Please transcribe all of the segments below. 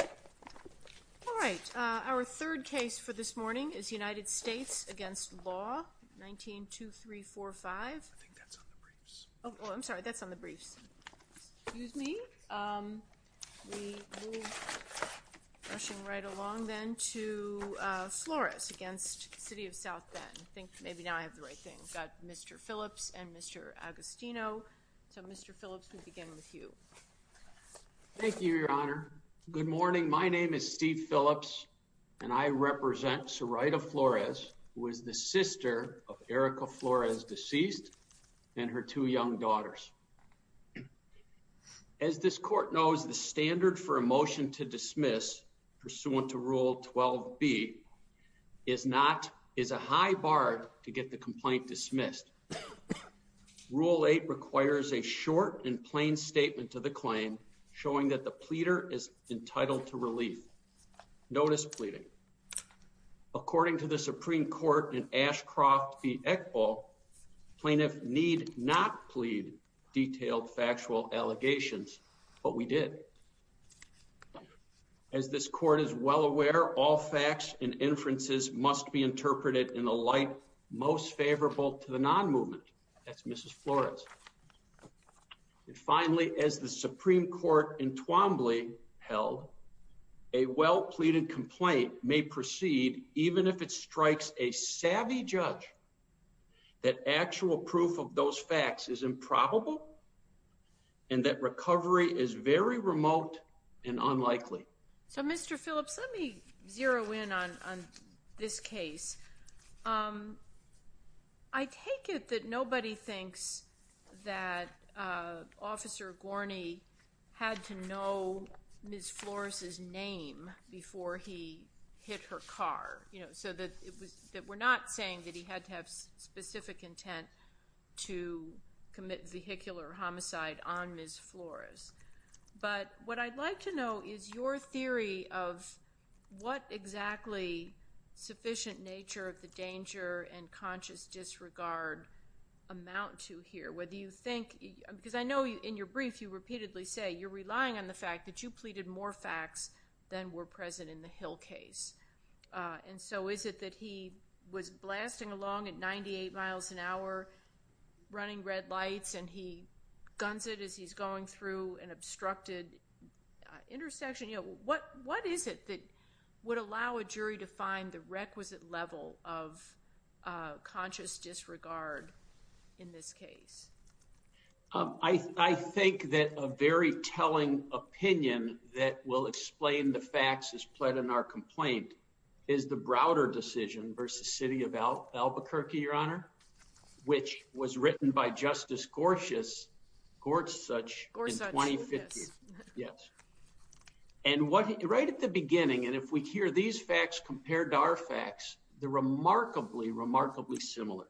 All right. Our third case for this morning is United States v. Law 19-2345. I think that's on the briefs. Oh, I'm sorry. That's on the briefs. Excuse me. We move, rushing right along then, to Flores v. City of South Bend. I think maybe now I have the right thing. We've got Mr. Phillips and Mr. Agostino. So, Mr. Phillips, we begin with you. Thank you, Your Honor. Good morning. My name is Steve Phillips, and I represent Sorida Flores, who is the sister of Erica Flores, deceased, and her two young daughters. As this court knows, the standard for a motion to dismiss, pursuant to Rule 12b, is a high bar to get the complaint dismissed. Next, Rule 8 requires a short and plain statement to the claim, showing that the pleader is entitled to relief. Notice pleading. According to the Supreme Court in Ashcroft v. Eckel, plaintiffs need not plead detailed factual allegations, but we did. As this court is well aware, all facts and inferences must be interpreted in a light most favorable to the non-movement. That's Mrs. Flores. Finally, as the Supreme Court in Twombly held, a well-pleaded complaint may proceed, even if it strikes a savvy judge that actual proof of those facts is improbable and that recovery is very remote and unlikely. So, Mr. Phillips, let me zero in on this case. I take it that nobody thinks that Officer Gorney had to know Ms. Flores' name before he hit her car, so that we're not saying that he had to have specific intent to commit vehicular homicide on Ms. Flores. But what I'd like to know is your theory of what exactly sufficient nature of the danger and conscious disregard amount to here. Because I know in your brief you repeatedly say you're relying on the fact that you pleaded more facts than were present in the Hill case. And so is it that he was blasting along at 98 miles an hour, running red lights, and he guns it as he's going through an obstructed intersection? What is it that would allow a jury to find the requisite level of conscious disregard in this case? I think that a very telling opinion that will explain the facts as pled in our complaint is the Browder decision versus City of Albuquerque, Your Honor, which was written by Justice Gorsuch in 2015. And right at the beginning, and if we hear these facts compared to our facts, they're remarkably, remarkably similar.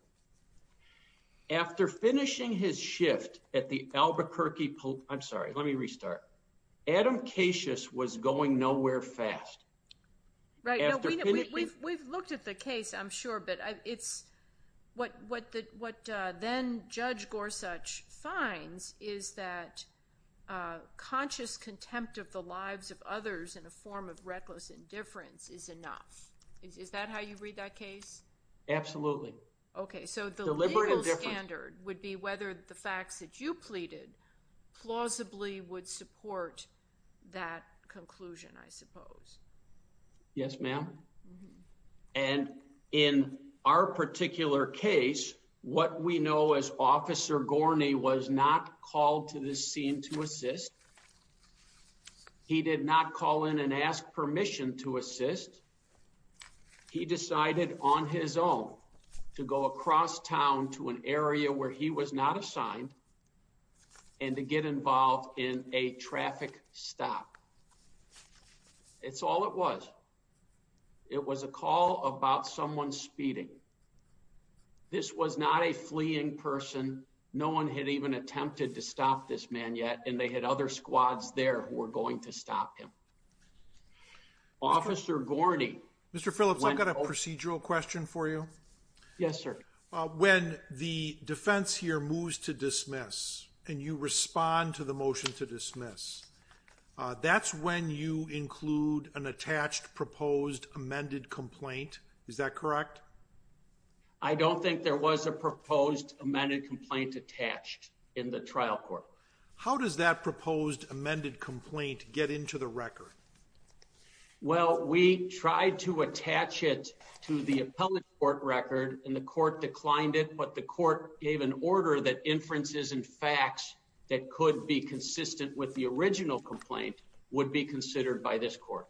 After finishing his shift at the Albuquerque Police, I'm sorry, let me restart. Adam Casius was going nowhere fast. We've looked at the case, I'm sure, but what then Judge Gorsuch finds is that conscious contempt of the lives of others in a form of reckless indifference is enough. Is that how you read that case? Absolutely. Okay, so the legal standard would be whether the facts that you pleaded plausibly would support that conclusion, I suppose. Yes, ma'am. And in our particular case, what we know is Officer Gorney was not called to the scene to assist. He did not call in and ask permission to assist. He decided on his own to go across town to an area where he was not assigned and to get involved in a traffic stop. It's all it was. It was a call about someone speeding. This was not a fleeing person. No one had even attempted to stop this man yet, and they had other squads there who were going to stop him. Officer Gorney. Mr. Phillips, I've got a procedural question for you. Yes, sir. When the defense here moves to dismiss and you respond to the motion to dismiss, that's when you include an attached proposed amended complaint. Is that correct? I don't think there was a proposed amended complaint attached in the trial court. How does that proposed amended complaint get into the record? Well, we tried to attach it to the appellate court record, and the court declined it. But the court gave an order that inferences and facts that could be consistent with the original complaint would be considered by this court.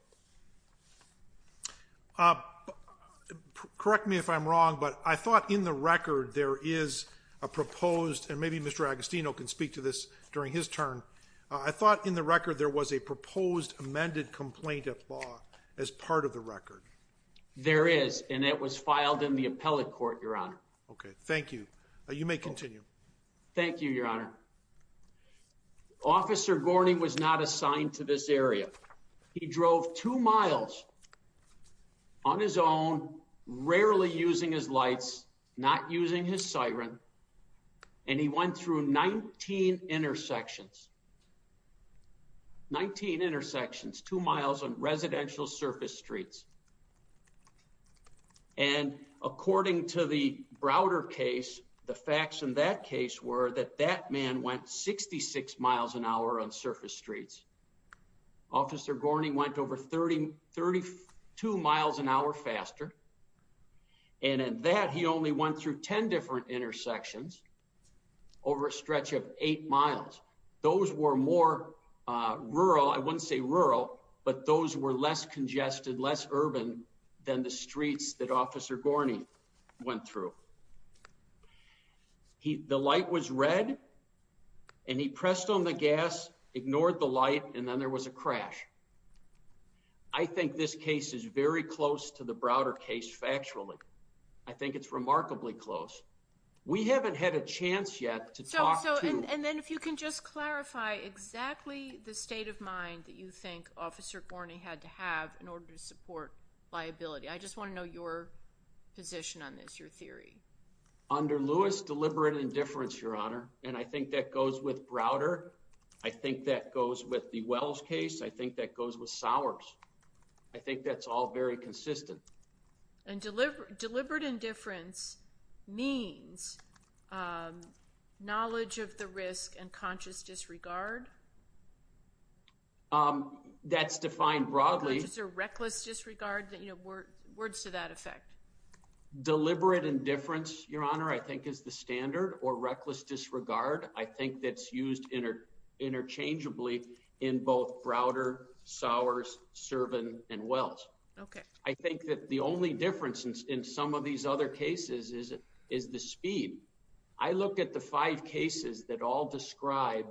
Correct me if I'm wrong, but I thought in the record there is a proposed, and maybe Mr. Agostino can speak to this during his turn. I thought in the record there was a proposed amended complaint at law as part of the record. There is, and it was filed in the appellate court, Your Honor. Okay, thank you. You may continue. Thank you, Your Honor. Officer Gorney was not assigned to this area. He drove two miles on his own, rarely using his lights, not using his siren. And he went through 19 intersections. 19 intersections, two miles on residential surface streets. And according to the Browder case, the facts in that case were that that man went 66 miles an hour on surface streets. Officer Gorney went over 32 miles an hour faster. And in that, he only went through 10 different intersections over a stretch of eight miles. Those were more rural, I wouldn't say rural, but those were less congested, less urban than the streets that Officer Gorney went through. The light was red, and he pressed on the gas, ignored the light, and then there was a crash. I think this case is very close to the Browder case factually. I think it's remarkably close. We haven't had a chance yet to talk to And then if you can just clarify exactly the state of mind that you think Officer Gorney had to have in order to support liability. I just want to know your position on this, your theory. Under Lewis, deliberate indifference, Your Honor. And I think that goes with Browder. I think that goes with the Wells case. I think that goes with Sowers. I think that's all very consistent. Deliberate indifference means knowledge of the risk and conscious disregard? That's defined broadly. Reckless disregard, words to that effect. Deliberate indifference, Your Honor, I think is the standard, or reckless disregard, I think that's used interchangeably in both Browder, Sowers, Servan, and Wells. I think that the only difference in some of these other cases is the speed. I look at the five cases that all describe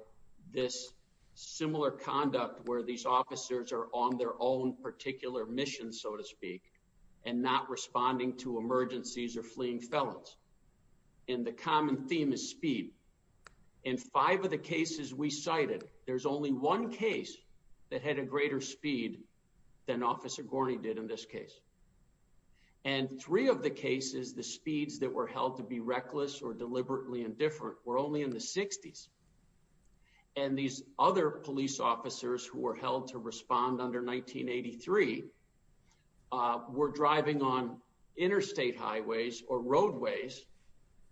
this similar conduct where these officers are on their own particular mission, so to speak, and not responding to emergencies or fleeing felons. And the common theme is speed. In five of the cases we cited, there's only one case that had a greater speed than Officer Gorney did in this case. And three of the cases, the speeds that were held to be reckless or deliberately indifferent were only in the 60s. And these other police officers who were held to respond under 1983 were driving on interstate highways or roadways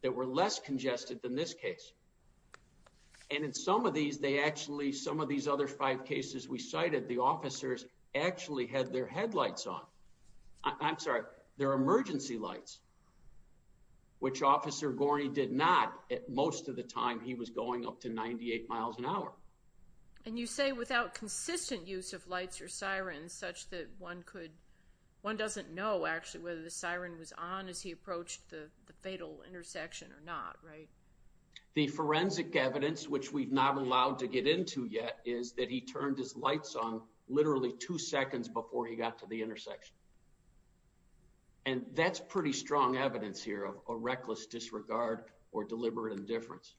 that were less congested than this case. And in some of these, they actually, some of these other five cases we cited, the officers actually had their headlights on. I'm sorry, their emergency lights, which Officer Gorney did not most of the time. He was going up to 98 miles an hour. And you say without consistent use of lights or sirens such that one could, one doesn't know actually whether the siren was on as he approached the fatal intersection or not, right? The forensic evidence, which we've not allowed to get into yet, is that he turned his lights on literally two seconds before he got to the intersection. And that's pretty strong evidence here of a reckless disregard or deliberate indifference.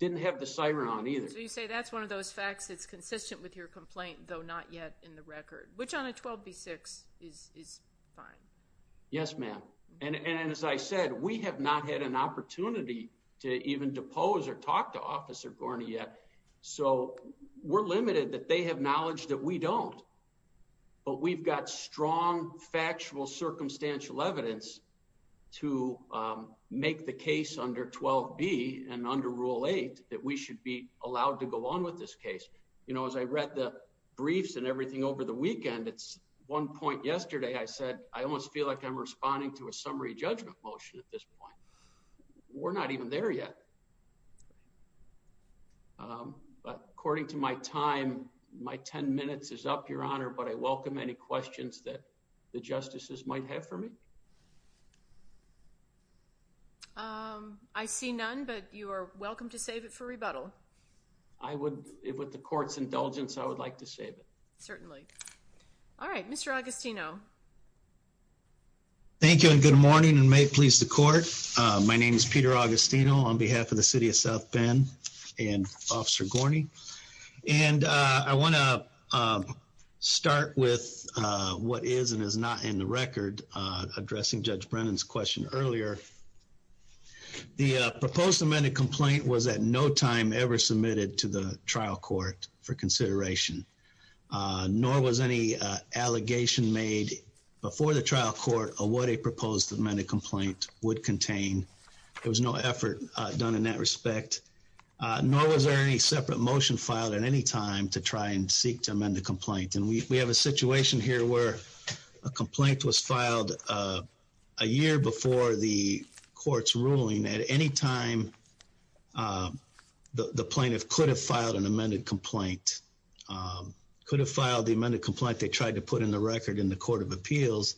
Didn't have the siren on either. So you say that's one of those facts that's consistent with your complaint, though not yet in the record, which on a 12B6 is fine. Yes, ma'am. And as I said, we have not had an opportunity to even depose or talk to Officer Gorney yet. So we're limited that they have knowledge that we don't. But we've got strong, factual, circumstantial evidence to make the case under 12B and under Rule 8 that we should be allowed to go on with this case. You know, as I read the briefs and everything over the weekend, it's one point yesterday I said I almost feel like I'm responding to a summary judgment motion at this point. We're not even there yet. But according to my time, my 10 minutes is up, Your Honor, but I welcome any questions that the justices might have for me. I see none, but you are welcome to save it for rebuttal. With the court's indulgence, I would like to save it. Certainly. Mr. Agostino. Thank you and good morning and may it please the court. My name is Peter Agostino on behalf of the City of South Bend and Officer Gorney. And I want to start with what is and is not in the record addressing Judge Brennan's question earlier. The proposed amended complaint was at no time ever submitted to the trial court for consideration. Nor was any allegation made before the trial court of what a proposed amended complaint would contain. There was no effort done in that respect. Nor was there any separate motion filed at any time to try and seek to amend the complaint. And we have a situation here where a complaint was filed a year before the court's ruling. At any time, the plaintiff could have filed an amended complaint. Could have filed the amended complaint they tried to put in the record in the court of appeals.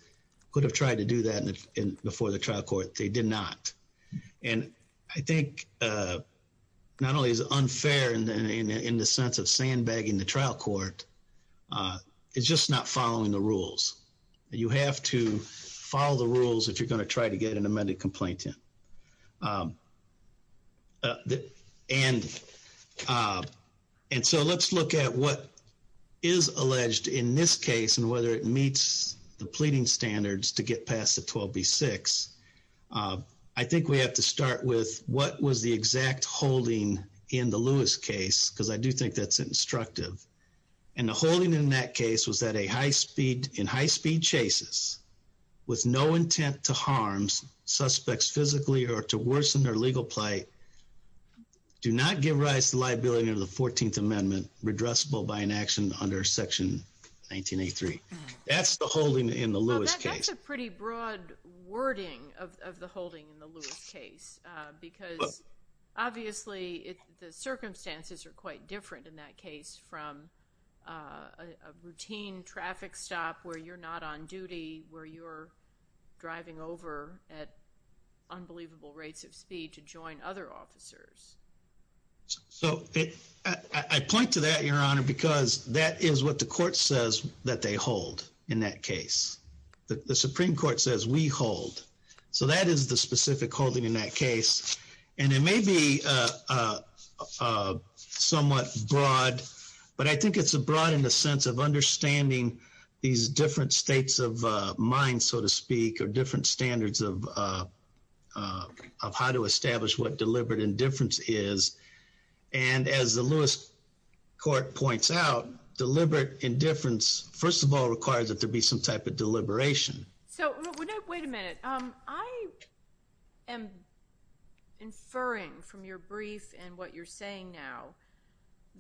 Could have tried to do that before the trial court. They did not. And I think not only is it unfair in the sense of sandbagging the trial court. It's just not following the rules. You have to follow the rules if you're going to try to get an amended complaint in. And so let's look at what is alleged in this case and whether it meets the pleading standards to get past the 12B6. I think we have to start with what was the exact holding in the Lewis case. Because I do think that's instructive. And the holding in that case was that in high-speed chases, with no intent to harm suspects physically or to worsen their legal plight, do not give rise to liability under the 14th Amendment, redressable by an action under Section 1983. That's the holding in the Lewis case. That's a pretty broad wording of the holding in the Lewis case. Because obviously the circumstances are quite different in that case from a routine traffic stop where you're not on duty, where you're driving over at unbelievable rates of speed to join other officers. So I point to that, Your Honor, because that is what the court says that they hold in that case. The Supreme Court says we hold. So that is the specific holding in that case. And it may be somewhat broad, but I think it's broad in the sense of understanding these different states of mind, so to speak, or different standards of how to establish what deliberate indifference is. And as the Lewis court points out, deliberate indifference, first of all, requires that there be some type of deliberation. So wait a minute. I am inferring from your brief and what you're saying now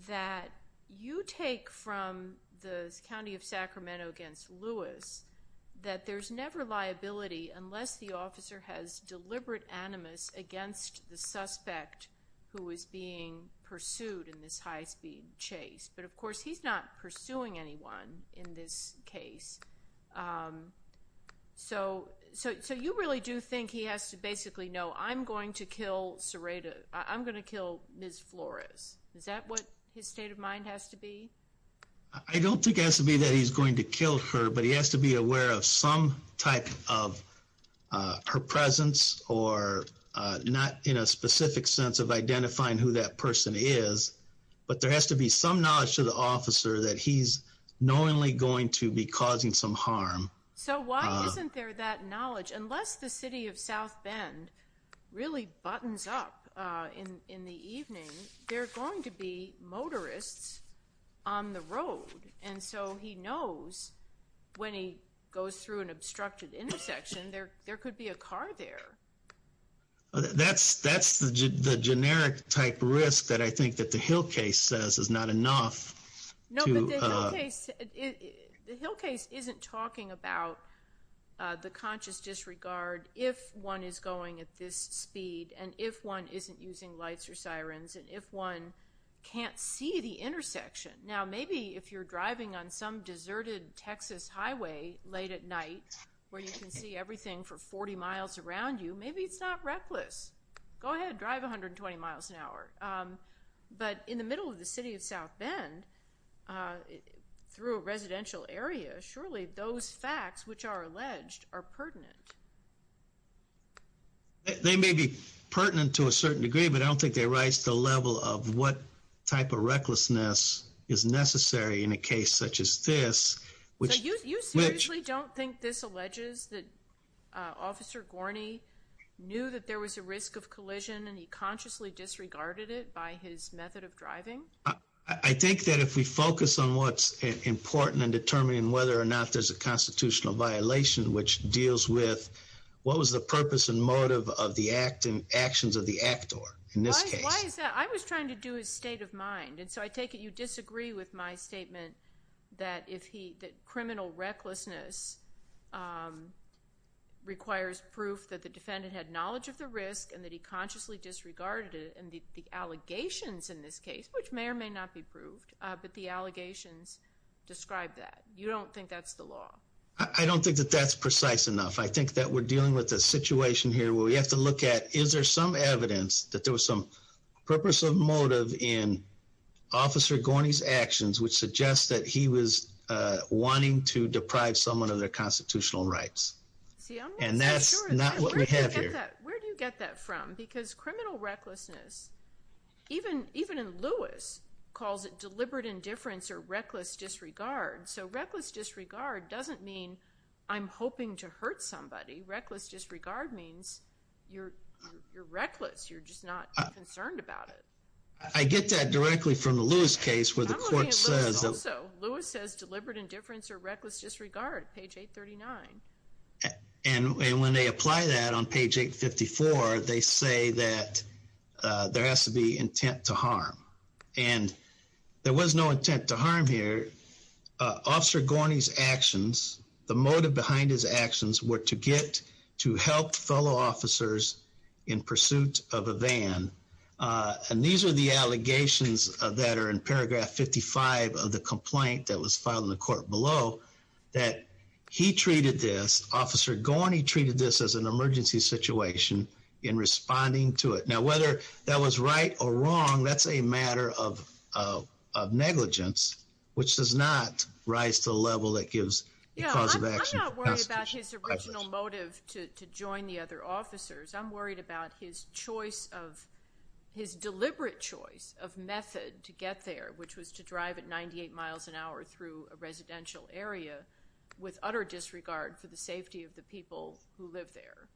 that you take from the County of Sacramento against Lewis that there's never liability unless the officer has deliberate animus against the suspect who is being pursued in this high-speed chase. But, of course, he's not pursuing anyone in this case. So you really do think he has to basically know, I'm going to kill Ms. Flores. Is that what his state of mind has to be? I don't think it has to be that he's going to kill her, but he has to be aware of some type of her presence, or not in a specific sense of identifying who that person is. But there has to be some knowledge to the officer that he's knowingly going to be causing some harm. So why isn't there that knowledge? Unless the City of South Bend really buttons up in the evening, there are going to be motorists on the road. And so he knows when he goes through an obstructed intersection, there could be a car there. That's the generic type risk that I think that the Hill case says is not enough. No, but the Hill case isn't talking about the conscious disregard if one is going at this speed, and if one isn't using lights or sirens, and if one can't see the intersection. Now, maybe if you're driving on some deserted Texas highway late at night, where you can see everything for 40 miles around you, maybe it's not reckless. Go ahead, drive 120 miles an hour. But in the middle of the City of South Bend, through a residential area, surely those facts which are alleged are pertinent. They may be pertinent to a certain degree, but I don't think they rise to the level of what type of recklessness is necessary in a case such as this. So you seriously don't think this alleges that Officer Gorney knew that there was a risk of collision and he consciously disregarded it by his method of driving? I think that if we focus on what's important in determining whether or not there's a constitutional violation, which deals with what was the purpose and motive of the act and actions of the actor in this case. Why is that? I was trying to do his state of mind, and so I take it you disagree with my statement that criminal recklessness requires proof that the defendant had knowledge of the risk and that he consciously disregarded it and the allegations in this case, which may or may not be proved, but the allegations describe that. You don't think that's the law? I don't think that that's precise enough. I think that we're dealing with a situation here where we have to look at, is there some evidence that there was some purpose or motive in Officer Gorney's actions which suggests that he was wanting to deprive someone of their constitutional rights? And that's not what we have here. Where do you get that from? Because criminal recklessness, even in Lewis, calls it deliberate indifference or reckless disregard. So reckless disregard doesn't mean I'm hoping to hurt somebody. Reckless disregard means you're reckless. You're just not concerned about it. I get that directly from the Lewis case where the court says... And when they apply that on page 854, they say that there has to be intent to harm. And there was no intent to harm here. Officer Gorney's actions, the motive behind his actions, were to get to help fellow officers in pursuit of a van. And these are the allegations that are in paragraph 55 of the complaint that was filed in the court below that he treated this, Officer Gorney treated this as an emergency situation in responding to it. Now, whether that was right or wrong, that's a matter of negligence, which does not rise to a level that gives a cause of action. I'm not worried about his original motive to join the other officers. I'm worried about his choice of, his deliberate choice of method to get there, which was to drive at 98 miles an hour through a residential area with utter disregard for the safety of the people who live there.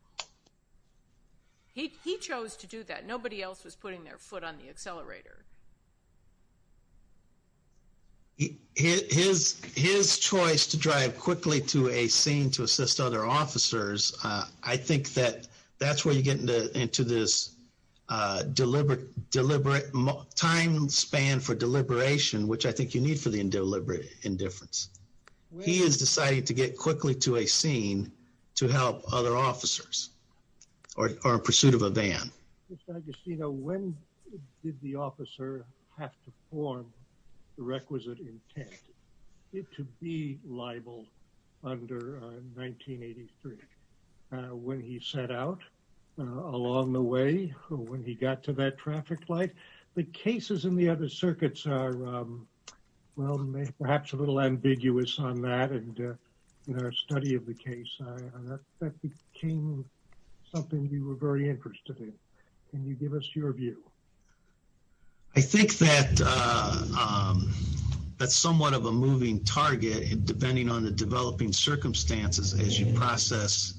He chose to do that. Nobody else was putting their foot on the accelerator. His choice to drive quickly to a scene to assist other officers, I think that that's where you get into this deliberate time span for deliberation, which I think you need for the indeliberate indifference. He has decided to get quickly to a scene to help other officers or in pursuit of a van. So, I guess, you know, when did the officer have to form the requisite intent to be liable under 1983? When he set out along the way, when he got to that traffic light, the cases in the other circuits are, well, perhaps a little ambiguous on that. And in our study of the case, that became something you were very interested in. Can you give us your view? I think that that's somewhat of a moving target, depending on the developing circumstances as you process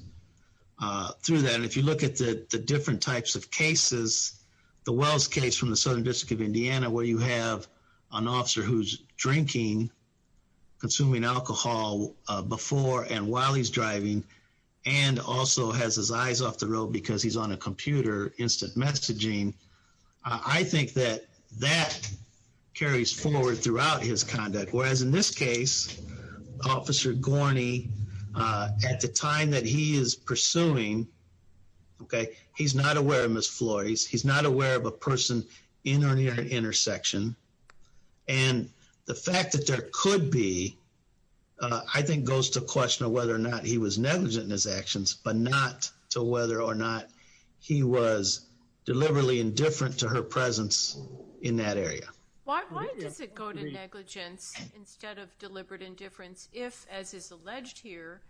through that. And if you look at the different types of cases, the Wells case from the Southern District of Indiana, where you have an officer who's drinking, consuming alcohol before and while he's driving, and also has his eyes off the road because he's on a computer, instant messaging, I think that that carries forward throughout his conduct. Whereas in this case, Officer Gorney, at the time that he is pursuing, okay, he's not aware of Ms. Flores. He's not aware of a person in or near an intersection. And the fact that there could be, I think, goes to question of whether or not he was negligent in his actions, but not to whether or not he was deliberately indifferent to her presence in that area. Why does it go to negligence instead of deliberate indifference if, as is alleged here,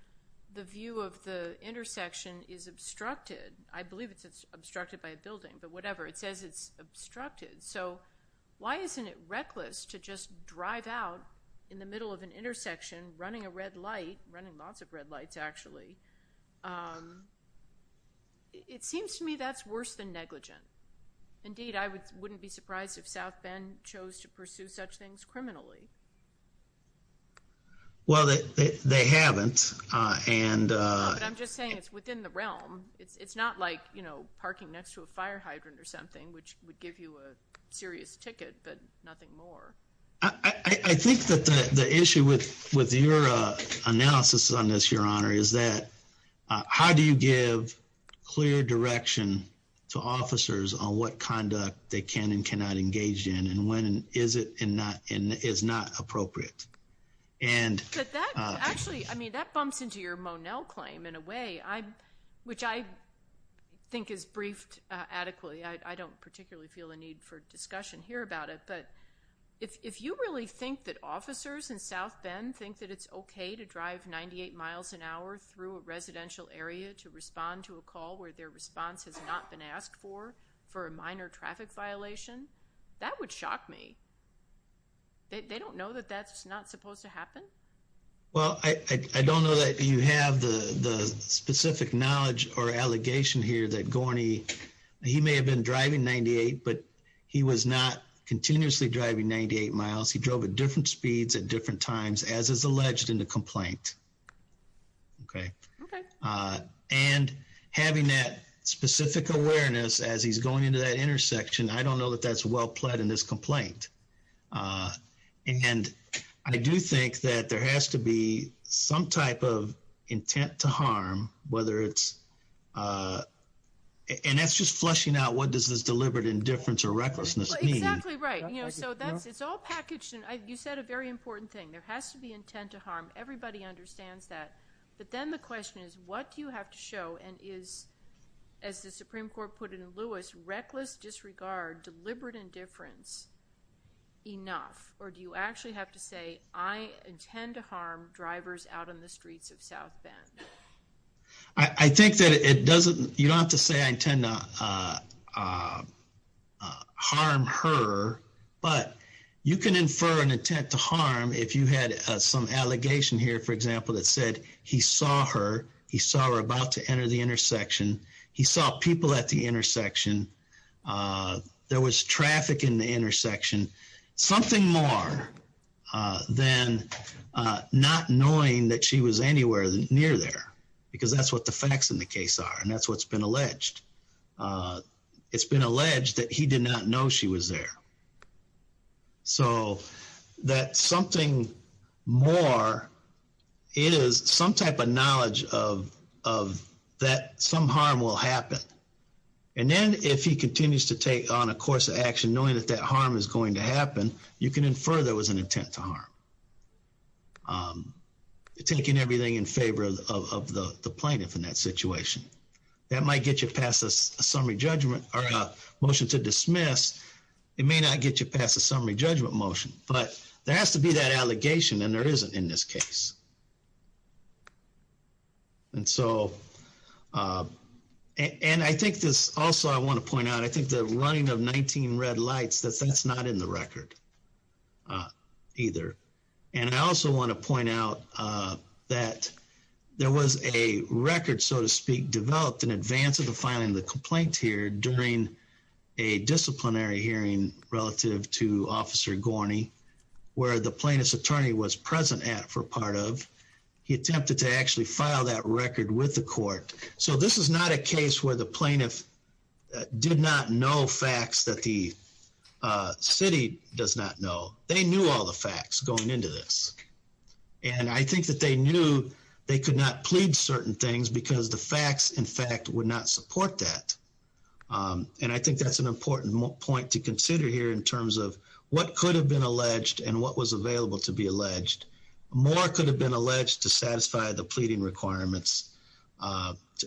the view of the intersection is obstructed? I believe it's obstructed by a building, but whatever. It says it's obstructed. So why isn't it reckless to just drive out in the middle of an intersection running a red light, running lots of red lights, actually? It seems to me that's worse than negligent. Indeed, I wouldn't be surprised if South Bend chose to pursue such things criminally. Well, they haven't. No, but I'm just saying it's within the realm. It's not like, you know, parking next to a fire hydrant or something, which would give you a serious ticket, but nothing more. I think that the issue with your analysis on this, Your Honor, is that how do you give clear direction to officers on what conduct they can and cannot engage in and when is it and is not appropriate? But that actually, I mean, that bumps into your Monell claim in a way, which I think is briefed adequately. I don't particularly feel a need for discussion here about it, but if you really think that officers in South Bend think that it's okay to drive 98 miles an hour through a residential area to respond to a call where their response has not been asked for for a minor traffic violation, that would shock me. They don't know that that's not supposed to happen? Well, I don't know that you have the specific knowledge or allegation here that Gorney, he may have been driving 98, but he was not continuously driving 98 miles. He drove at different speeds at different times, as is alleged in the complaint. Okay. Okay. And having that specific awareness as he's going into that intersection, I don't know that that's well-plaid in this complaint. And I do think that there has to be some type of intent to harm, whether it's, and that's just fleshing out what does this deliberate indifference or recklessness mean. Exactly right. You know, so that's, it's all packaged, and you said a very important thing. There has to be intent to harm. Everybody understands that. But then the question is, what do you have to show? And is, as the Supreme Court put it in Lewis, reckless disregard, deliberate indifference enough? Or do you actually have to say, I intend to harm drivers out on the streets of South Bend? I think that it doesn't, you don't have to say I intend to harm her, but you can infer an intent to harm if you had some allegation here, for example, that said he saw her, he saw her about to enter the intersection, he saw people at the intersection, there was traffic in the intersection, something more than not knowing that she was anywhere near there, because that's what the facts in the case are, and that's what's been alleged. It's been alleged that he did not know she was there. So that something more, it is some type of knowledge of that some harm will happen. And then if he continues to take on a course of action, knowing that that harm is going to happen, you can infer there was an intent to harm, taking everything in favor of the plaintiff in that situation. That might get you past a summary judgment or a motion to dismiss. It may not get you past a summary judgment motion. But there has to be that allegation, and there isn't in this case. And so, and I think this also I want to point out, I think the running of 19 red lights, that's not in the record either. And I also want to point out that there was a record, so to speak, developed in advance of the filing of the complaint here during a disciplinary hearing relative to Officer Gorney, where the plaintiff's attorney was present at for part of. He attempted to actually file that record with the court. So this is not a case where the plaintiff did not know facts that the city does not know. They knew all the facts going into this. And I think that they knew they could not plead certain things because the facts, in fact, would not support that. And I think that's an important point to consider here in terms of what could have been alleged and what was available to be alleged. More could have been alleged to satisfy the pleading requirements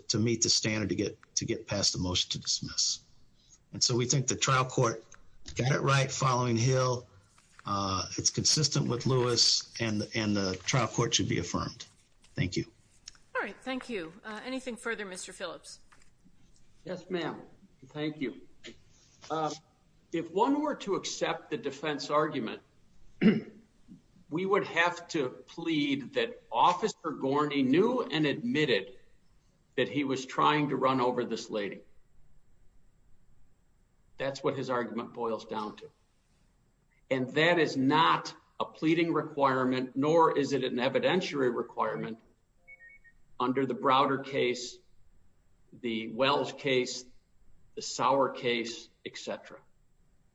to meet the standard to get past the motion to dismiss. And so we think the trial court got it right following Hill. It's consistent with Lewis and the trial court should be affirmed. Thank you. All right, thank you. Anything further, Mr. Phillips? Yes, ma'am. Thank you. If one were to accept the defense argument, we would have to plead that Officer Gorney knew and admitted that he was trying to run over this lady. That's what his argument boils down to. And that is not a pleading requirement, nor is it an evidentiary requirement under the Browder case, the Wells case, the Sauer case, et cetera.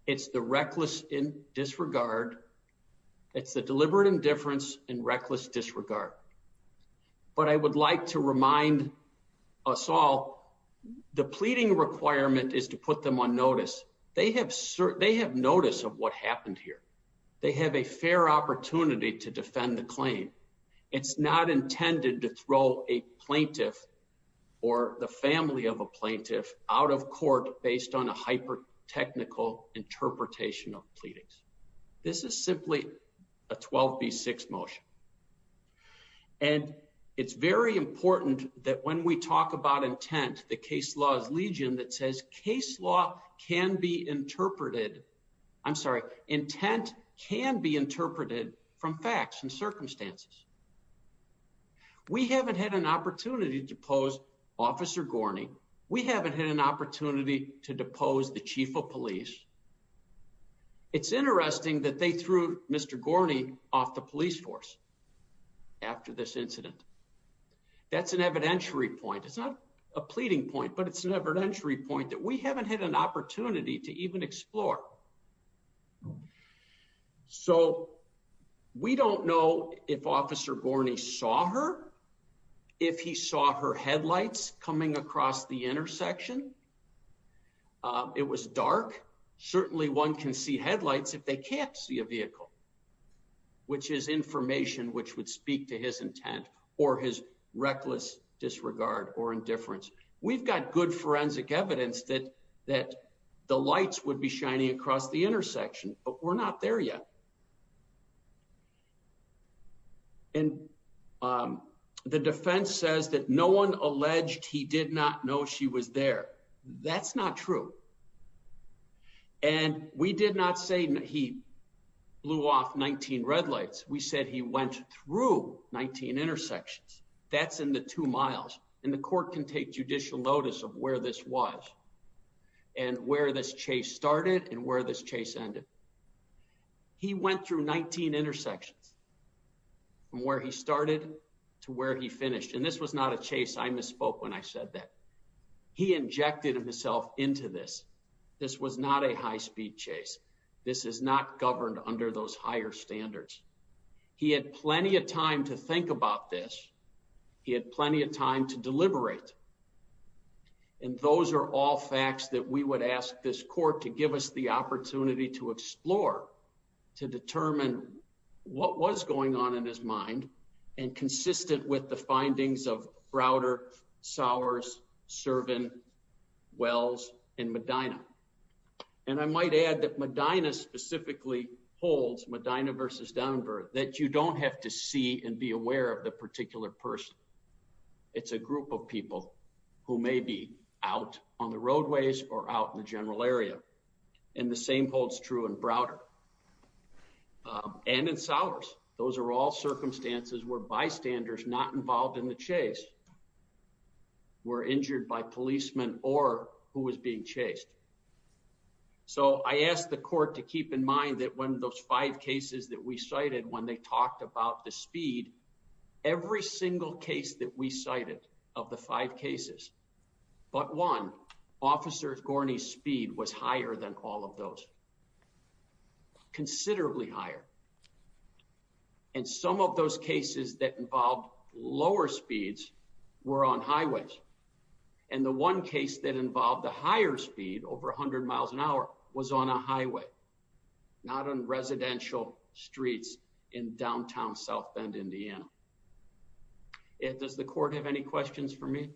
It's the reckless disregard. It's the deliberate indifference and reckless disregard. But I would like to remind us all the pleading requirement is to put them on notice. They have notice of what happened here. They have a fair opportunity to defend the claim. It's not intended to throw a plaintiff or the family of a plaintiff out of court based on a hyper technical interpretation of pleadings. This is simply a 12 v. 6 motion. And it's very important that when we talk about intent, the case laws legion that says case law can be interpreted. I'm sorry. Intent can be interpreted from facts and circumstances. We haven't had an opportunity to pose Officer Gorney. We haven't had an opportunity to depose the chief of police. It's interesting that they threw Mr. Gorney off the police force after this incident. That's an evidentiary point. It's not a pleading point, but it's an evidentiary point that we haven't had an opportunity to even explore. So we don't know if Officer Gorney saw her, if he saw her headlights coming across the intersection. It was dark. Certainly one can see headlights if they can't see a vehicle, which is information which would speak to his intent or his reckless disregard or indifference. We've got good forensic evidence that that the lights would be shining across the intersection, but we're not there yet. And the defense says that no one alleged he did not know she was there. That's not true. And we did not say he blew off 19 red lights. We said he went through 19 intersections. That's in the two miles. And the court can take judicial notice of where this was and where this chase started and where this chase ended. He went through 19 intersections from where he started to where he finished. And this was not a chase. I misspoke when I said that. He injected himself into this. This was not a high-speed chase. This is not governed under those higher standards. He had plenty of time to think about this. He had plenty of time to deliberate. And those are all facts that we would ask this court to give us the opportunity to explore to determine what was going on in his mind and consistent with the findings of Browder, Sowers, Servin, Wells, and Medina. And I might add that Medina specifically holds, Medina versus Denver, that you don't have to see and be aware of the particular person. It's a group of people who may be out on the roadways or out in the general area. And the same holds true in Browder and in Sowers. Those are all circumstances where bystanders not involved in the chase were injured by policemen or who was being chased. So I ask the court to keep in mind that when those five cases that we cited when they talked about the speed, every single case that we cited of the five cases, but one, Officer Gorney's speed was higher than all of those. Considerably higher. And some of those cases that involved lower speeds were on highways. And the one case that involved the higher speed, over 100 miles an hour, was on a highway, not on residential streets in downtown South Bend, Indiana. Does the court have any questions for me?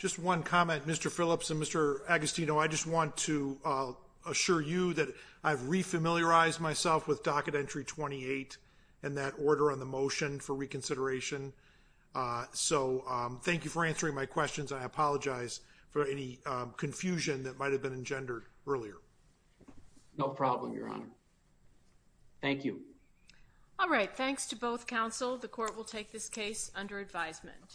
Just one comment, Mr. Phillips and Mr. Agostino. I just want to assure you that I've re-familiarized myself with Docket Entry 28 and that order on the motion for reconsideration. So thank you for answering my questions. I apologize for any confusion that might have been engendered earlier. No problem, Your Honor. Thank you. All right, thanks to both counsel. The court will take this case under advisement.